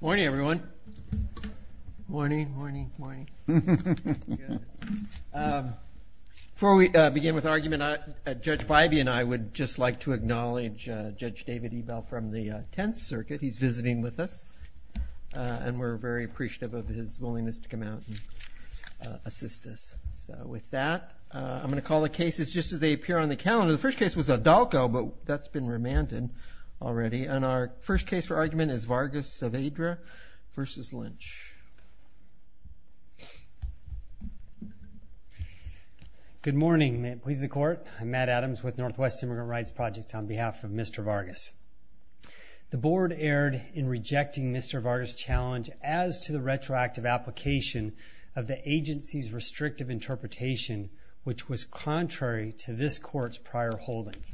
Morning everyone. Morning, morning, morning. Before we begin with argument, Judge Bybee and I would just like to acknowledge Judge David Ebell from the Tenth Circuit. He's visiting with us and we're very appreciative of his willingness to come out and assist us. So with that I'm gonna call the cases just as they appear on the calendar. The first case was Adalco but that's been remanded already and our first case for argument is Vargas-Saavedra versus Lynch. Good morning. May it please the court. I'm Matt Adams with Northwest Immigrant Rights Project on behalf of Mr. Vargas. The board erred in rejecting Mr. Vargas' challenge as to the retroactive application of the agency's restrictive interpretation which was contrary to this court's prior holdings.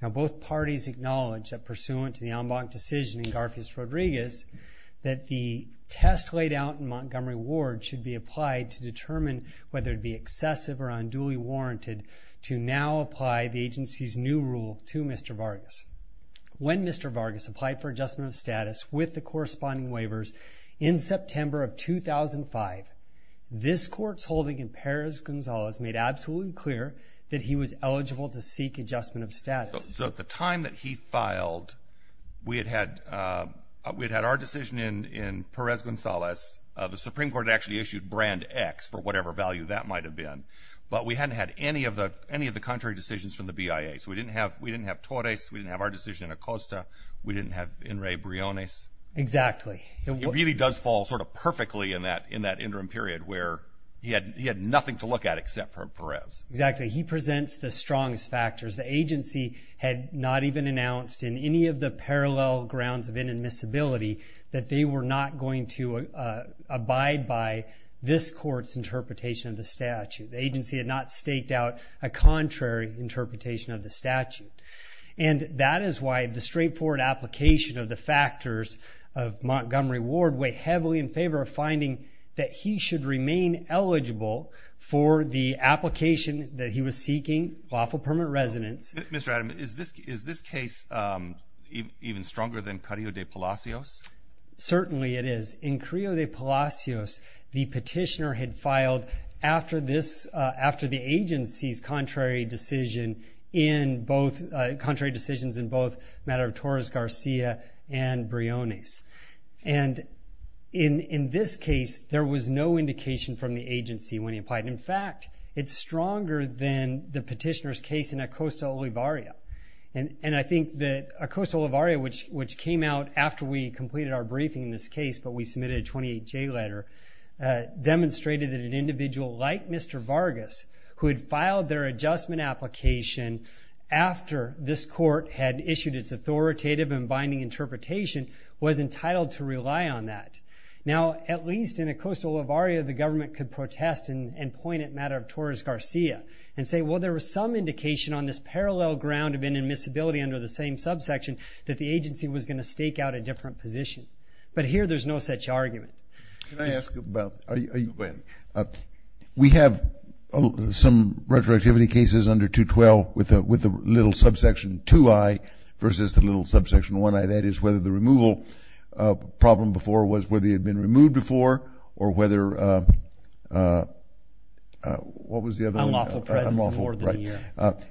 Now both parties acknowledged that pursuant to the en banc decision in Garfias-Rodriguez that the test laid out in Montgomery Ward should be applied to determine whether it be excessive or unduly warranted to now apply the agency's new rule to Mr. Vargas. When Mr. Vargas applied for adjustment of status with the corresponding waivers in September of 2005, this court's holding in Perez Gonzalez made absolutely clear that he was eligible to seek adjustment of status. At the time that he filed, we had had our decision in Perez Gonzalez. The Supreme Court actually issued brand X for whatever value that might have been but we hadn't had any of the contrary decisions from the BIA. So we didn't have Torres, we didn't have our decision in Acosta, we didn't have Enrique Briones. Exactly. It really does fall sort of perfectly in that interim period where he had nothing to look at except for Perez. Exactly. He presents the strongest factors. The agency had not even announced in any of the parallel grounds of inadmissibility that they were not going to abide by this court's interpretation of the statute. The agency had not staked out a contrary interpretation of the statute. And that is why the straightforward application of the factors of Montgomery Ward weigh heavily in favor of finding that he should remain eligible for the application that he was seeking, lawful permanent residence. Mr. Adam, is this is this case even stronger than Carrillo de Palacios? Certainly it is. In Carrillo de Palacios, the petitioner had filed after this, after the agency's contrary decision in both, contrary decisions in both Madero-Torres-Garcia and Briones. And in in this case there was no indication from the agency when he applied. In fact, it's stronger than the petitioner's case in Acosta-Olivarria. And I think that Acosta-Olivarria, which which came out after we completed our briefing in this case, but we submitted a 28-J letter, demonstrated that an individual like Mr. Vargas, who had submitted their adjustment application after this court had issued its authoritative and binding interpretation, was entitled to rely on that. Now, at least in Acosta-Olivarria, the government could protest and point at Madero-Torres-Garcia and say, well, there was some indication on this parallel ground of inadmissibility under the same subsection that the agency was going to stake out a different position. But here there's no such argument. Can I ask about, are you, the retroactivity cases under 212 with the little subsection 2i versus the little subsection 1i, that is, whether the removal problem before was where they had been removed before or whether, what was the other one? Unlawful presence more than a year.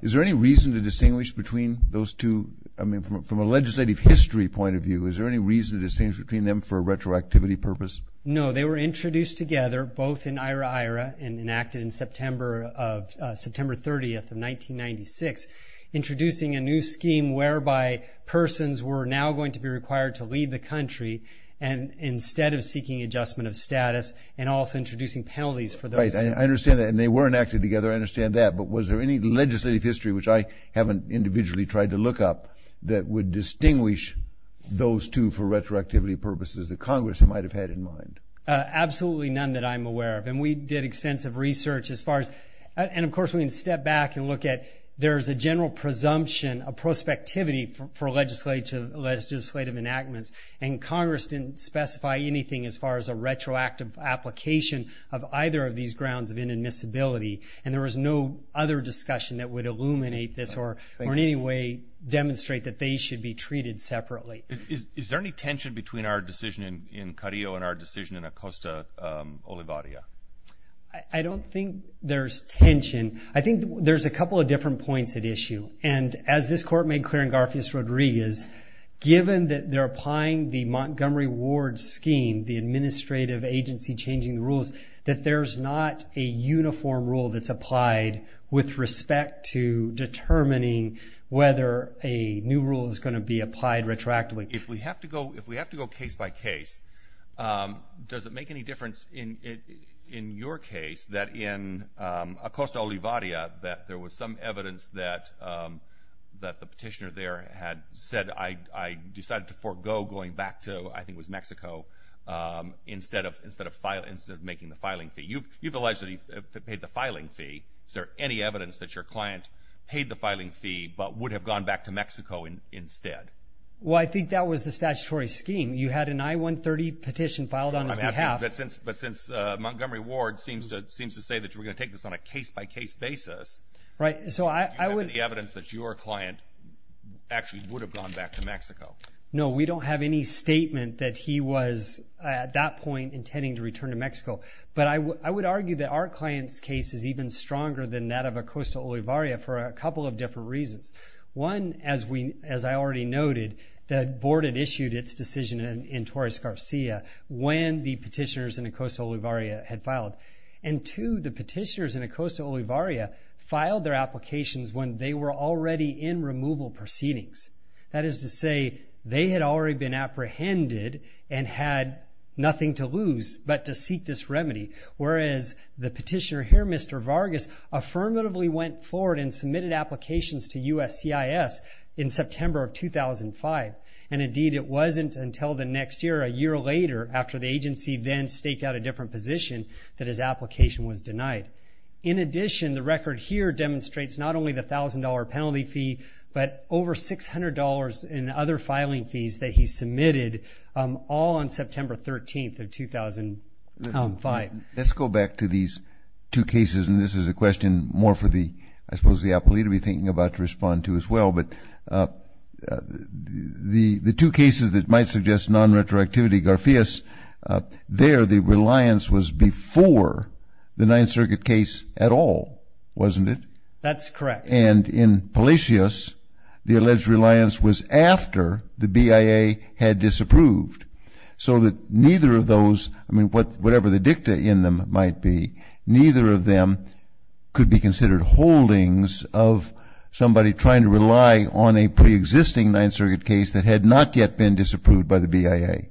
Is there any reason to distinguish between those two, I mean, from a legislative history point of view, is there any reason to distinguish between them for a retroactivity purpose? No, they were introduced together both in September of, September 30th of 1996, introducing a new scheme whereby persons were now going to be required to leave the country and instead of seeking adjustment of status and also introducing penalties for those. Right, I understand that, and they weren't acted together, I understand that, but was there any legislative history, which I haven't individually tried to look up, that would distinguish those two for retroactivity purposes that Congress might have had in mind? Absolutely none that I'm aware of, and we did extensive research as far as, and of course we can step back and look at, there's a general presumption, a prospectivity for legislative enactments, and Congress didn't specify anything as far as a retroactive application of either of these grounds of inadmissibility, and there was no other discussion that would illuminate this or in any way demonstrate that they should be treated separately. Is there any tension between our decision in Carillo and our decision in Acosta, Olivaria? I don't think there's tension, I think there's a couple of different points at issue, and as this court made clear in Garfias-Rodriguez, given that they're applying the Montgomery Ward scheme, the administrative agency changing the rules, that there's not a uniform rule that's applied with respect to determining whether a new rule is going to be applied retroactively. If we have to go, case by case, does it make any difference in your case that in Acosta, Olivaria, that there was some evidence that the petitioner there had said, I decided to forego going back to, I think it was Mexico, instead of making the filing fee. You've allegedly paid the filing fee. Is there any evidence that your client paid the filing fee but would have gone back to Mexico? No, we don't have any statement that he was, at that point, intending to return to Mexico, but I would argue that our client's case is even stronger than that of Acosta, Olivaria, for a couple of different reasons. One, as I already noted, the board had issued its decision in Torres-Garcia when the petitioners in Acosta, Olivaria had filed. And two, the petitioners in Acosta, Olivaria filed their applications when they were already in removal proceedings. That is to say, they had already been apprehended and had nothing to lose but to seek this remedy, whereas the petitioner here, Mr. Vargas, affirmatively went forward and submitted applications to USCIS in September of 2005. And indeed, it wasn't until the next year, a year later, after the agency then staked out a different position, that his application was denied. In addition, the record here demonstrates not only the $1,000 penalty fee but over $600 in other filing fees that he submitted all on September 13th of 2005. Let's go back to these two cases, and this is a question more for the, I mean, the two cases that might suggest non-retroactivity. Garfias, there the reliance was before the Ninth Circuit case at all, wasn't it? That's correct. And in Palacios, the alleged reliance was after the BIA had disapproved. So that neither of those, I mean, whatever the dicta in them might be, neither of them could be considered holdings of somebody trying to rely on a pre-existing Ninth Circuit case that had not yet been disapproved by the BIA.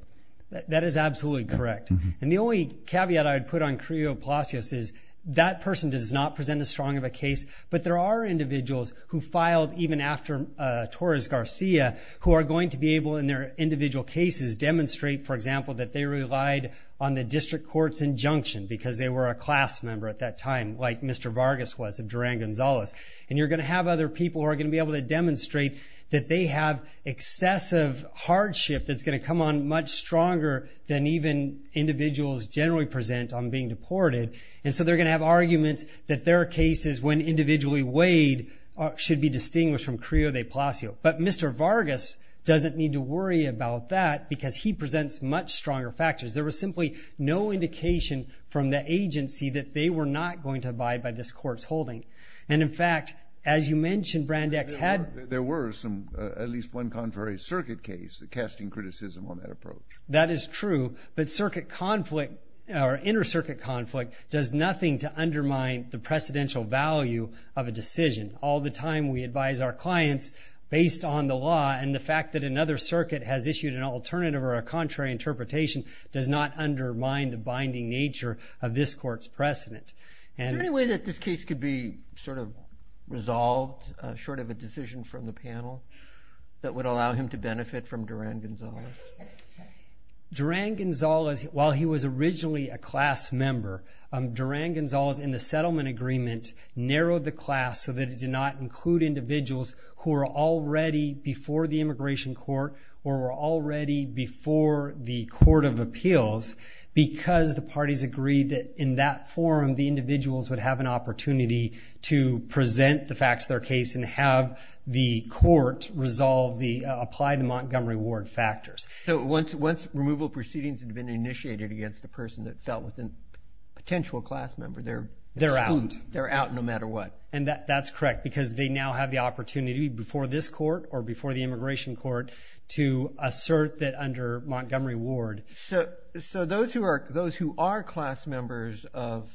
That is absolutely correct. And the only caveat I would put on Carrillo-Palacios is that person does not present as strong of a case, but there are individuals who filed even after Torres-Garcia who are going to be able, in their individual cases, demonstrate, for example, that they relied on the district court's injunction because they were a class member at that time, like Mr. Vargas was of Durán- González. And you're going to have other people who are going to be able to have excessive hardship that's going to come on much stronger than even individuals generally present on being deported. And so they're going to have arguments that their cases, when individually weighed, should be distinguished from Carrillo-Palacios. But Mr. Vargas doesn't need to worry about that because he presents much stronger factors. There was simply no indication from the agency that they were not going to abide by this court's holding. And in at least one contrary circuit case, casting criticism on that approach. That is true, but circuit conflict or inter-circuit conflict does nothing to undermine the precedential value of a decision. All the time we advise our clients based on the law, and the fact that another circuit has issued an alternative or a contrary interpretation does not undermine the binding nature of this court's precedent. Is there any way that this case could be sort of that would allow him to benefit from Duran-González? Duran-González, while he was originally a class member, Duran-González, in the settlement agreement, narrowed the class so that it did not include individuals who are already before the Immigration Court or were already before the Court of Appeals because the parties agreed that in that forum the individuals would have an apply to Montgomery Ward factors. So once removal proceedings had been initiated against the person that fell within potential class member, they're they're out. They're out no matter what. And that's correct because they now have the opportunity before this court or before the Immigration Court to assert that under Montgomery Ward. So those who are those who are class members of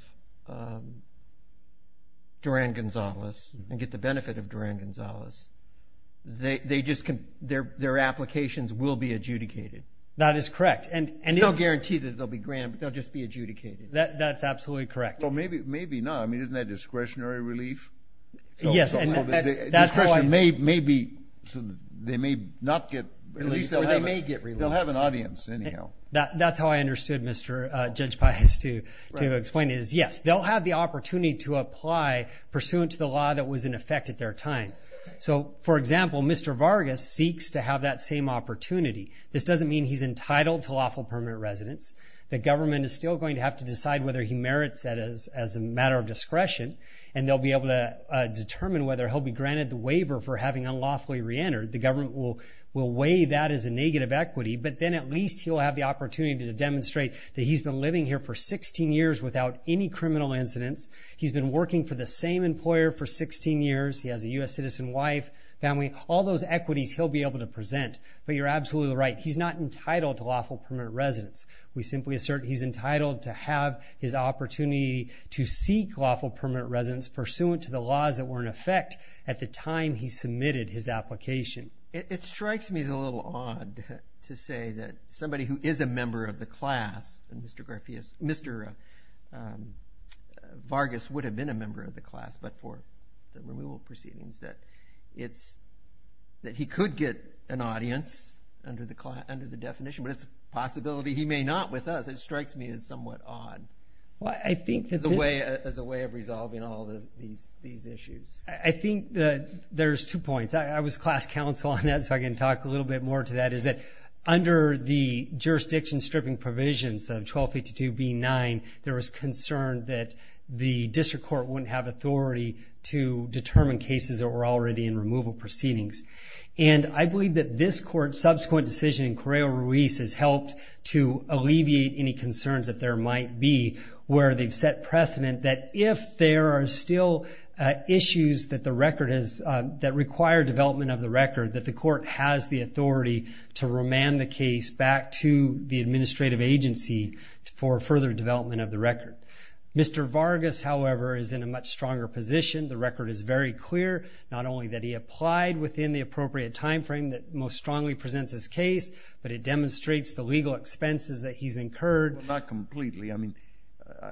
Duran-González and get the benefit of Duran-González, they their applications will be adjudicated. That is correct. And you don't guarantee that they'll be granted. They'll just be adjudicated. That's absolutely correct. Well maybe not. I mean isn't that discretionary relief? Yes. Maybe they may not get released. They may get released. They'll have an audience anyhow. That's how I understood Mr. Judge Pius to explain it. Yes, they'll have the opportunity to apply pursuant to the law that was in effect at their time. So for example, Mr. Vargas seeks to have that same opportunity. This doesn't mean he's entitled to lawful permanent residence. The government is still going to have to decide whether he merits that as as a matter of discretion. And they'll be able to determine whether he'll be granted the waiver for having unlawfully reentered. The government will will weigh that as a negative equity. But then at least he'll have the opportunity to demonstrate that he's been living here for 16 years without any criminal incidents. He's been working for the same employer for 16 years. He has a U.S. citizen wife, family, all those equities he'll be able to present. But you're absolutely right. He's not entitled to lawful permanent residence. We simply assert he's entitled to have his opportunity to seek lawful permanent residence pursuant to the laws that were in effect at the time he submitted his application. It strikes me as a little odd to say that somebody who is a member of the class and Mr. Vargas Mr. Vargas would have been a member of the class but for the removal proceedings that it's that he could get an audience under the class under the definition. But it's a possibility he may not with us. It strikes me as somewhat odd. Well I think that the way as a way of resolving all these these issues. I think that there's two points. I was class counsel on that so I can talk a little bit more to that. Is that under the jurisdiction stripping provisions of 1252 B9 there was concern that the district court wouldn't have authority to determine cases that were already in removal proceedings. And I believe that this court's subsequent decision in Correo Ruiz has helped to alleviate any concerns that there might be where they've set precedent that if there are still issues that the record is that require development of the record that the court has the authority to remand the case back to the administrative agency for further development of the record. Mr. Vargas however is in a much stronger position. The record is very clear not only that he applied within the appropriate time frame that most strongly presents his case but it demonstrates the legal expenses that he's incurred. Not completely. I mean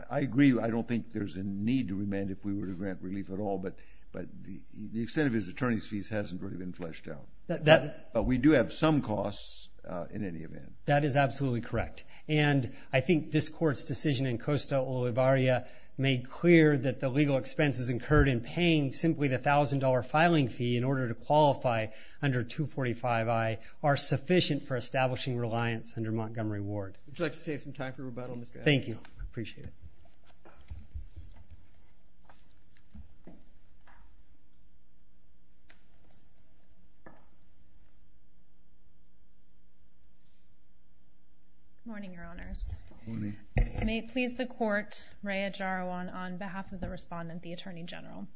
I agree I don't think there's a need to remand if we were to grant relief at all but but the extent of his attorney's fees hasn't really been fleshed out. That we do have some costs in any event. That is absolutely correct and I think this court's decision in Costa Olivaria made clear that the legal expenses incurred in paying simply the thousand dollar filing fee in order to qualify under 245 I are sufficient for establishing reliance under Montgomery Ward. Would you like to save some time for rebuttal? Thank you. I appreciate it. Good morning your honors. May it please the court, Raya Jarawan on behalf of the respondent the Attorney General.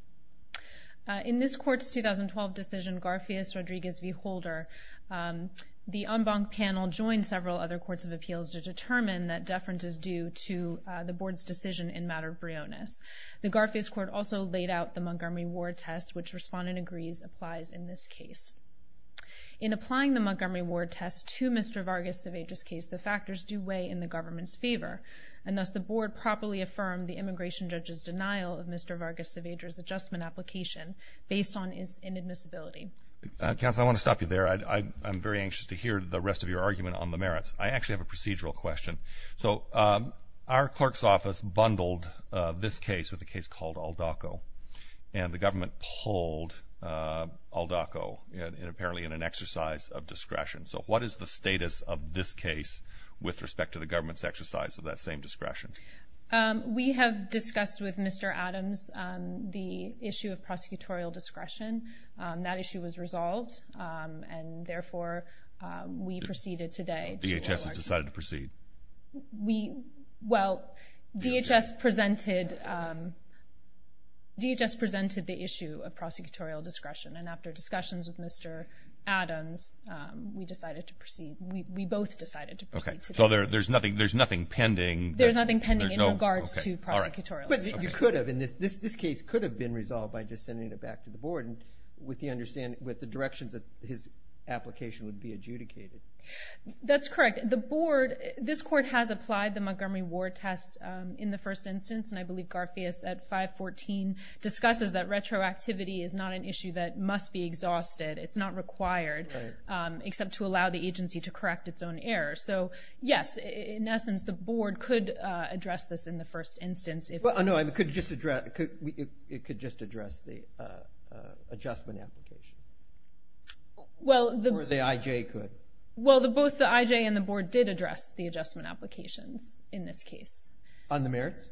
In this court's 2012 decision Garfias Rodriguez v. Holder, the en banc panel joined several other courts of appeals to determine that deference is due to the board's decision in matter of brioness. The Garfias court also laid out the Montgomery Ward test which respondent agrees applies in this case. In applying the Montgomery Ward test to Mr. Vargas Cevedo's case, the factors do weigh in the government's favor and thus the board properly affirmed the immigration judge's denial of Mr. Vargas Cevedo's adjustment application based on his inadmissibility. Counsel I want to stop you there. I'm very anxious to hear the rest of your argument on the merits. I actually have a procedural question. So our clerk's office bundled this case with a case called Aldaco and the government pulled Aldaco apparently in an exercise of discretion. So what is the status of this case with respect to the government's exercise of that same discretion? We have discussed with Mr. Adams the issue of prosecutorial discretion. That issue was resolved and therefore we proceeded today. DHS has decided to proceed? Well DHS presented DHS presented the issue of prosecutorial discretion and after discussions with Mr. Adams we decided to proceed. We both decided to proceed. So there's nothing there's nothing pending? There's nothing pending in regards to prosecutorial discretion. But you could have in this this case could have been resolved by just sending it back to the board and with the understanding with the directions that his application would be adjudicated. That's correct. The board this court has applied the Montgomery Ward test in the first instance and I believe Garfias at 514 discusses that retroactivity is not an issue that must be exhausted. It's not required except to allow the agency to correct its own error. So yes in essence the board could address this in the first instance. Well no I could just address it could just address the adjustment application. Well the IJ could. Well the both the IJ and the board did address the adjustment applications in this case. On the merits?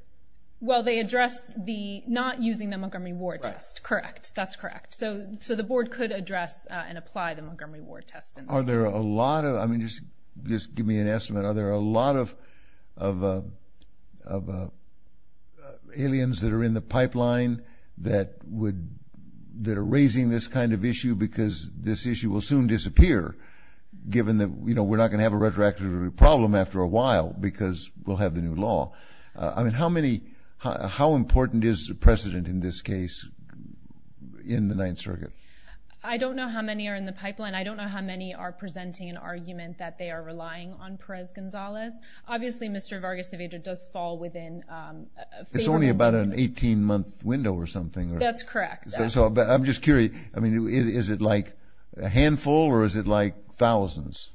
Well they addressed the not using the Montgomery Ward test. Correct. That's correct. So so the board could address and apply the Montgomery Ward test. Are there a lot of I mean just just give me an estimate are there a lot of of aliens that are in the pipeline that would that are raising this kind of issue because this issue will soon disappear given that you know we're not gonna have a retroactive problem after a while because we'll have the new law. I mean how many how important is the precedent in this case in the Ninth Circuit? I don't know how many are in the pipeline. I don't know how many are presenting an argument that they are relying on Perez Gonzalez. Obviously Mr. Vargas-Cevedo does fall within. It's only about an 18 month window or something. That's correct. So I'm just curious I mean is it like a handful or is it like thousands?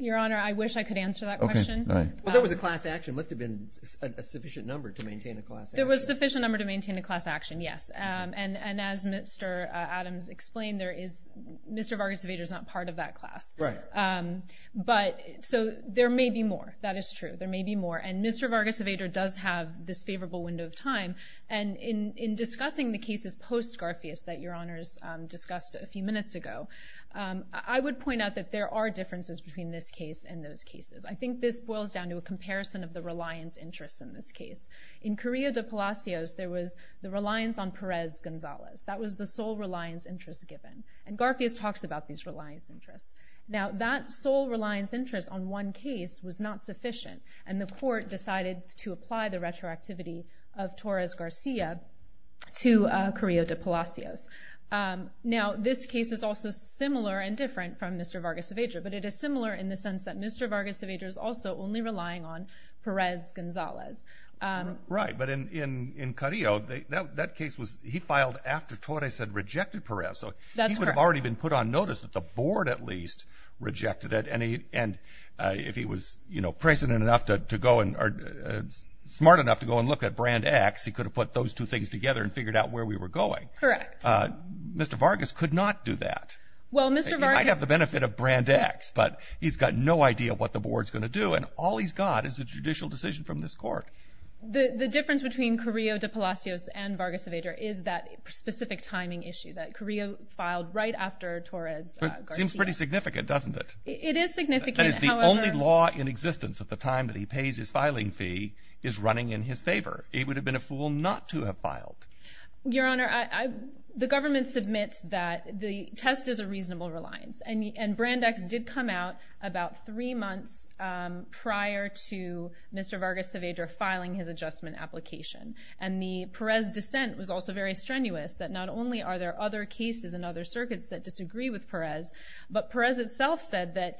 Your honor I wish I could answer that question. There was a class action must have been a sufficient number to maintain a class. There was sufficient number to maintain the class action yes and and as Mr. Adams explained there is Mr. Vargas-Cevedo is not part of that class. Right. But so there may be more that is true there may be more and Mr. Vargas-Cevedo does have this favorable window of time and in in discussing the cases post-Garfias that your honors discussed a few minutes ago I would point out that there are differences between this case and those cases. I think this boils down to a comparison of the reliance interests in this case. In the reliance on Perez Gonzalez that was the sole reliance interest given and Garfias talks about these reliance interests. Now that sole reliance interest on one case was not sufficient and the court decided to apply the retroactivity of Torres Garcia to Carrillo de Palacios. Now this case is also similar and different from Mr. Vargas-Cevedo but it is similar in the sense that Mr. Vargas-Cevedo is also only relying on Perez Gonzalez. Right but in in in Carrillo that case was he filed after Torres had rejected Perez so that's what I've already been put on notice that the board at least rejected it and he and if he was you know president enough to go and are smart enough to go and look at Brand X he could have put those two things together and figured out where we were going. Correct. Mr. Vargas could not do that. Well Mr. Vargas-Cevedo might have the benefit of Brand X but he's got no idea what the board's gonna do and all he's got is a judicial decision from this court. The difference between Carrillo de Palacios and Vargas-Cevedo is that specific timing issue that Carrillo filed right after Torres. Seems pretty significant doesn't it? It is significant. That is the only law in existence at the time that he pays his filing fee is running in his favor. It would have been a fool not to have filed. Your Honor I the government submits that the test is a reasonable reliance and Brand X did come out about three months prior to Mr. Vargas-Cevedo filing his adjustment application and the Perez dissent was also very strenuous that not only are there other cases and other circuits that disagree with Perez but Perez itself said that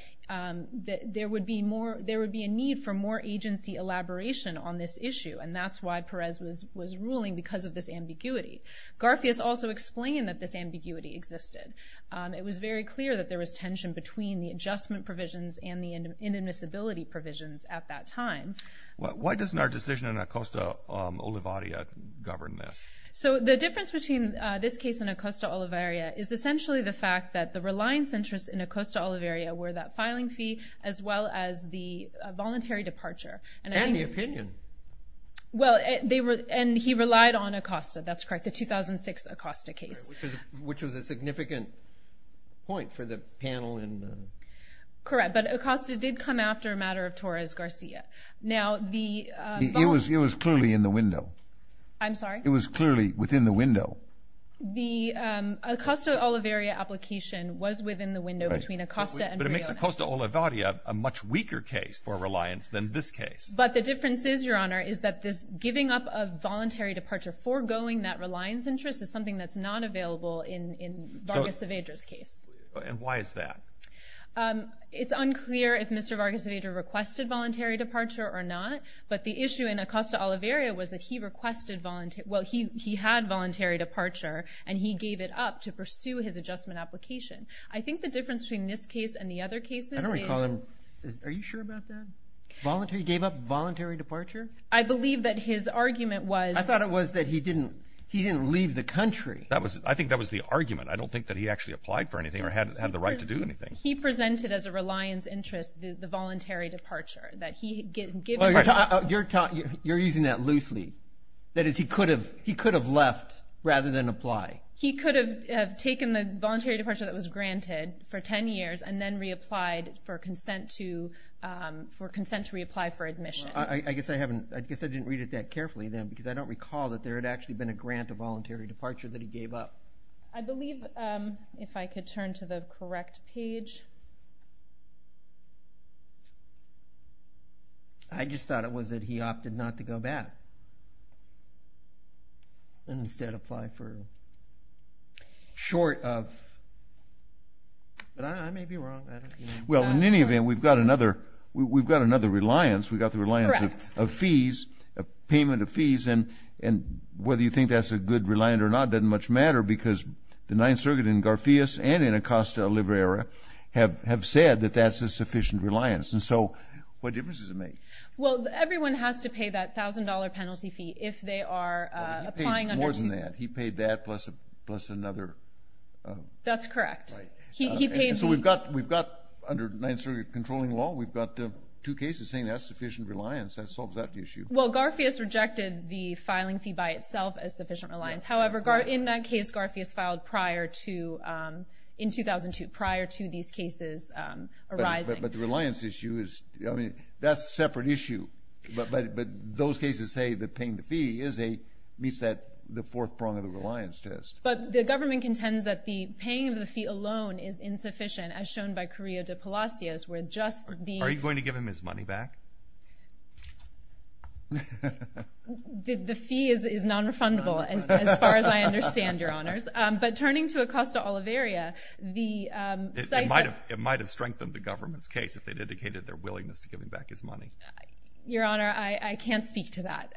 there would be more there would be a need for more agency elaboration on this issue and that's why Perez was was ruling because of this ambiguity. Garfias also explained that this ambiguity existed. It was very clear that there was tension between the adjustment provisions and the inadmissibility provisions at that time. Why doesn't our decision in Acosta-Olivaria govern this? So the difference between this case in Acosta-Olivaria is essentially the fact that the reliance interests in Acosta- Olivaria were that filing fee as well as the voluntary departure. And the opinion. Well they were and he relied on Acosta that's correct the 2006 Acosta case. Which was a significant point for the panel. Correct but Acosta did come after a matter of Torres-Garcia. Now the. It was clearly in the window. I'm sorry. It was clearly within the window. The Acosta-Olivaria application was within the window between Acosta. But it makes Acosta-Olivaria a much weaker case for reliance than this case. But the difference is your honor is that this giving up a voluntary departure foregoing that reliance interest is something that's not available in Vargas-Cevedo's case. And why is that? It's unclear if Mr. Vargas-Cevedo requested voluntary departure or not. But the issue in Acosta-Olivaria was that he requested voluntary. Well he he had voluntary departure and he gave it up to pursue his adjustment application. I think the difference between this case and the other cases. I don't recall. Are you sure about that? Voluntary gave up voluntary departure? I believe that his argument was. I thought it was that he didn't. He didn't leave the country. That was. I think that was the argument. I don't think that he actually applied for anything or had had the right to do anything. He presented as a reliance interest the voluntary departure. That he. You're using that loosely. That is he could have. He could have left rather than apply. He could have taken the voluntary departure that was granted for 10 years and then reapplied for consent to. For consent to reapply for admission. I guess I haven't. I guess I didn't read it that I don't recall that there had actually been a grant of voluntary departure that he gave up. I believe if I could turn to the correct page. I just thought it was that he opted not to go back. And instead apply for. Short of. But I may be wrong. Well in any event we've got another. We've got another reliance. We got the reliance of fees. Payment of fees. And whether you think that's a good reliant or not doesn't much matter because the Ninth Circuit in Garfias and in Acosta Oliveira have have said that that's a sufficient reliance. And so what difference does it make? Well everyone has to pay that thousand dollar penalty fee if they are applying. More than that. He paid that plus plus another. That's correct. So we've got we've got under Ninth Circuit controlling law we've got two cases saying that's sufficient reliance that solves that issue. Well Garfias rejected the filing fee by itself as sufficient reliance. However in that case Garfias filed prior to in 2002 prior to these cases arising. But the reliance issue is I mean that's a separate issue. But those cases say that paying the fee is a meets that the fourth prong of the reliance test. But the government contends that the paying of the fee alone is insufficient as Are you going to give him his money back? The fee is non-refundable as far as I understand your honors. But turning to Acosta Oliveira. It might have strengthened the government's case if they dedicated their willingness to give him back his money. Your honor I can't speak to that.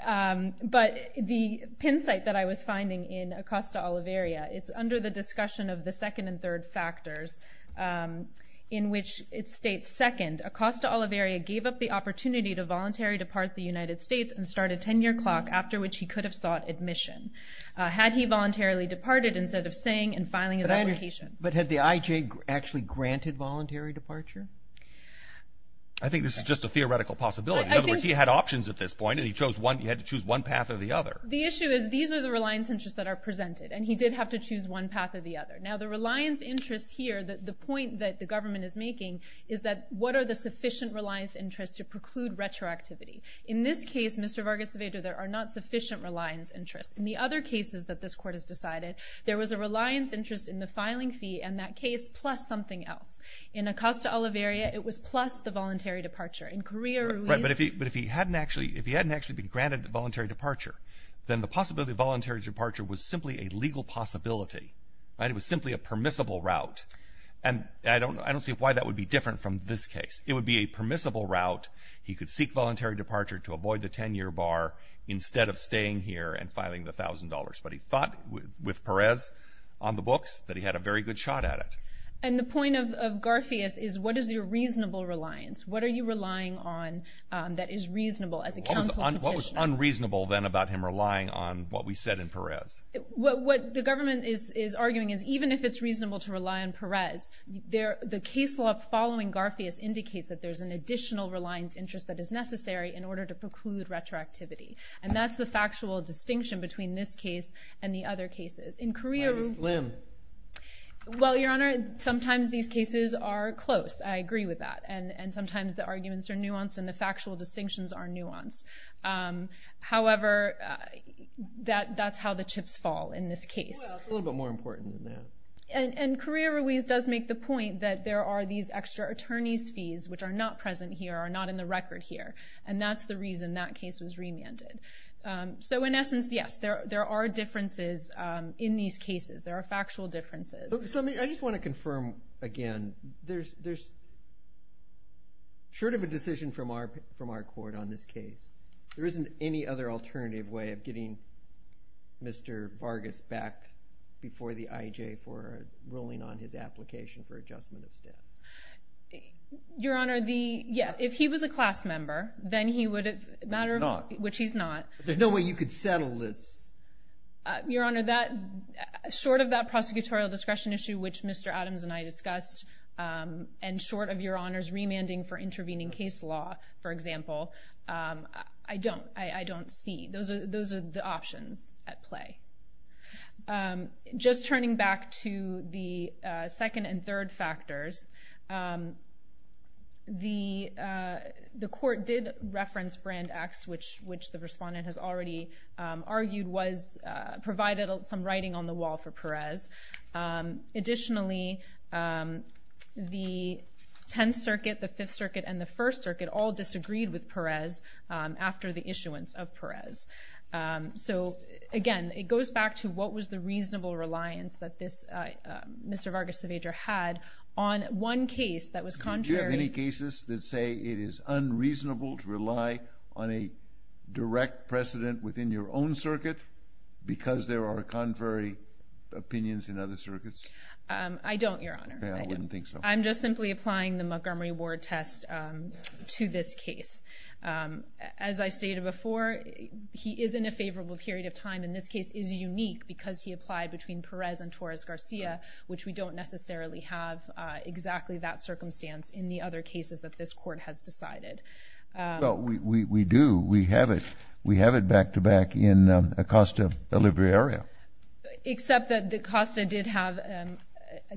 But the pin site that I was finding in Acosta Oliveira it's under the discussion of the second and third factors. In which it states second Acosta Oliveira gave up the opportunity to voluntary depart the United States and started 10-year clock after which he could have sought admission. Had he voluntarily departed instead of saying and filing his application. But had the IJ actually granted voluntary departure? I think this is just a theoretical possibility. He had options at this point and he chose one you had to choose one path or the other. The issue is these are the reliance interests that are presented and he did have to choose one path or the other. Now the reliance interest here that the point that the government is making is that what are the sufficient reliance interest to preclude retroactivity. In this case Mr. Vargas-Seveda there are not sufficient reliance interest. In the other cases that this court has decided there was a reliance interest in the filing fee and that case plus something else. In Acosta Oliveira it was plus the voluntary departure. In Correa Ruiz... But if he hadn't actually if he hadn't actually been granted voluntary departure then the possibility of voluntary departure was simply a legal possibility. It was simply a permissible route and I don't I don't see why that would be different from this case. It would be a permissible route. He could seek voluntary departure to avoid the 10-year bar instead of staying here and filing the thousand dollars. But he thought with Perez on the books that he had a very good shot at it. And the point of Garfias is what is your reasonable reliance? What are you relying on that is reasonable as a counsel? What was government is arguing is even if it's reasonable to rely on Perez there the case law following Garfias indicates that there's an additional reliance interest that is necessary in order to preclude retroactivity. And that's the factual distinction between this case and the other cases. In Correa Ruiz... Why this limb? Well your honor sometimes these cases are close I agree with that and and sometimes the arguments are nuanced and the factual distinctions are nuanced. However that that's how the chips fall in this case. A little bit more important than that. And Correa Ruiz does make the point that there are these extra attorneys fees which are not present here are not in the record here and that's the reason that case was remanded. So in essence yes there there are differences in these cases there are factual differences. I just want to confirm again there's there's sort of a decision from our from our court on this case. There isn't any other alternative way of getting Mr. Vargas back before the IEJ for ruling on his application for adjustment of status. Your honor the yeah if he was a class member then he would have matter of which he's not. There's no way you could settle this. Your honor that short of that prosecutorial discretion issue which Mr. Adams and I discussed and short of your honors remanding for intervening case law for example I don't I don't see those are those are the options at play. Just turning back to the second and third factors the the court did reference Brand X which which the respondent has already argued was provided some writing on the wall for 10th Circuit the 5th Circuit and the 1st Circuit all disagreed with Perez after the issuance of Perez. So again it goes back to what was the reasonable reliance that this Mr. Vargas Avedra had on one case that was contrary. Do you have any cases that say it is unreasonable to rely on a direct precedent within your own circuit because there are contrary opinions in other circuits? I don't your Montgomery Ward test to this case. As I stated before he is in a favorable period of time in this case is unique because he applied between Perez and Torres Garcia which we don't necessarily have exactly that circumstance in the other cases that this court has decided. Well we do we have it we have it back to back in the Acosta delivery area. Except that the Acosta did have a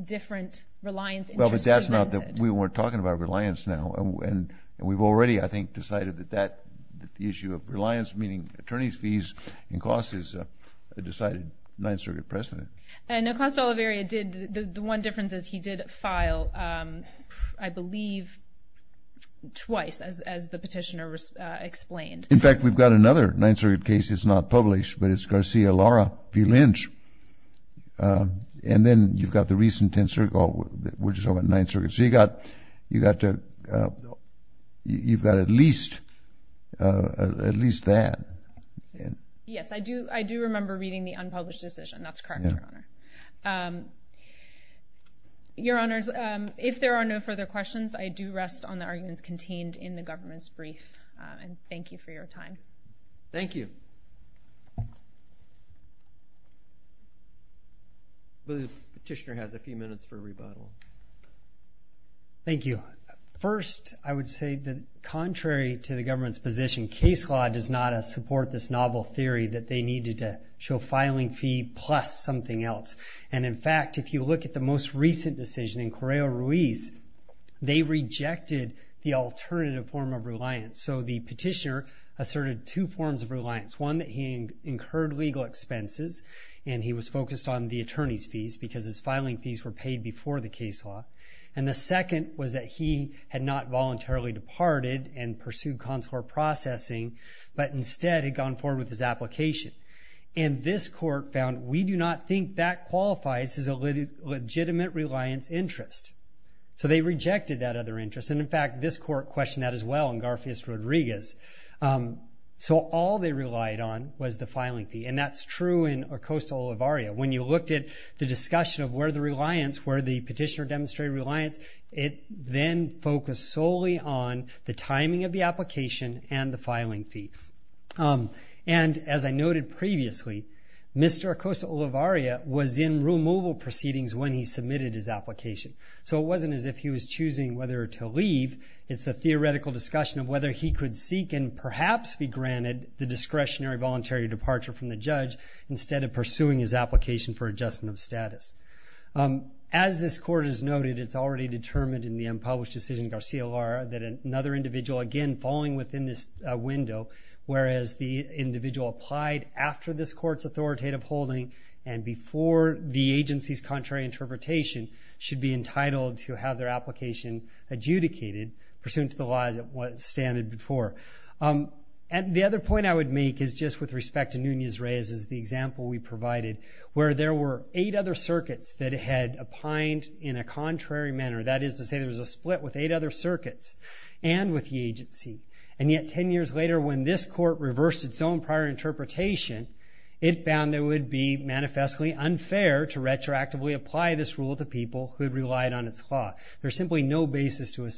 different reliance. That's not that we weren't talking about reliance now and we've already I think decided that that the issue of reliance meaning attorneys fees and costs is a decided 9th Circuit precedent. And Acosta delivery area did the one difference is he did file I believe twice as the petitioner explained. In fact we've got another 9th Circuit case it's not published but it's Garcia Lara B. Lynch and then you've got the recent 10th Circuit which is over at 9th Circuit. So you got you got to you've got at least at least that. Yes I do I do remember reading the unpublished decision that's correct your honor. Your honors if there are no further questions I do rest on the arguments contained in the petitioner has a few minutes for a rebuttal. Thank you. First I would say that contrary to the government's position case law does not support this novel theory that they needed to show filing fee plus something else. And in fact if you look at the most recent decision in Correo Ruiz they rejected the alternative form of reliance. So the petitioner asserted two forms of expenses and he was focused on the attorney's fees because his filing fees were paid before the case law. And the second was that he had not voluntarily departed and pursued consular processing but instead had gone forward with his application. And this court found we do not think that qualifies as a legitimate reliance interest. So they rejected that other interest and in fact this court questioned that as well in Garfield Rodriguez. So all they relied on was the filing fee and that's true in Acosta-Olivaria. When you looked at the discussion of where the reliance where the petitioner demonstrated reliance it then focused solely on the timing of the application and the filing fee. And as I noted previously Mr. Acosta-Olivaria was in removal proceedings when he submitted his application. So it wasn't as if he was choosing whether to leave. It's a theoretical discussion of whether he could seek and perhaps be granted the voluntary departure from the judge instead of pursuing his application for adjustment of status. As this court has noted it's already determined in the unpublished decision Garcia-Lara that another individual again falling within this window whereas the individual applied after this court's authoritative holding and before the agency's contrary interpretation should be entitled to have their application adjudicated pursuant to the laws that was standard before. And the other point I would make is just with respect to Nunez-Reyes as the example we provided where there were eight other circuits that had opined in a contrary manner. That is to say there was a split with eight other circuits and with the agency. And yet ten years later when this court reversed its own prior interpretation it found it would be manifestly unfair to retroactively apply this rule to people who had relied on its law. There's simply no basis to make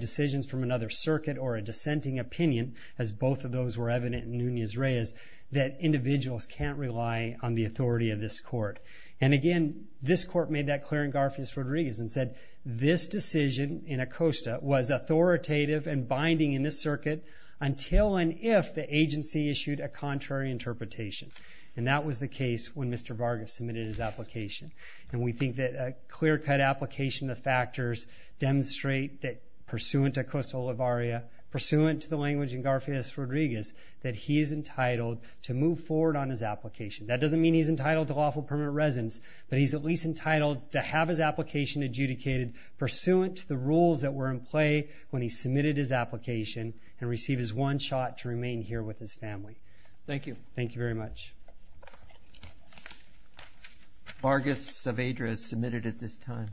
decisions from another circuit or a dissenting opinion, as both of those were evident in Nunez-Reyes, that individuals can't rely on the authority of this court. And again this court made that clear in Garcias-Rodriguez and said this decision in Acosta was authoritative and binding in this circuit until and if the agency issued a contrary interpretation. And that was the case when Mr. Vargas submitted his application. And we think that a clear cut application of factors demonstrate that pursuant to Acosta-Olivaria, pursuant to the language in Garcias-Rodriguez, that he is entitled to move forward on his application. That doesn't mean he's entitled to lawful permanent residence, but he's at least entitled to have his application adjudicated pursuant to the rules that were in play when he submitted his application and received his one shot to remain here with his family. Thank you. Thank you very much. Vargas of Adras submitted at this time.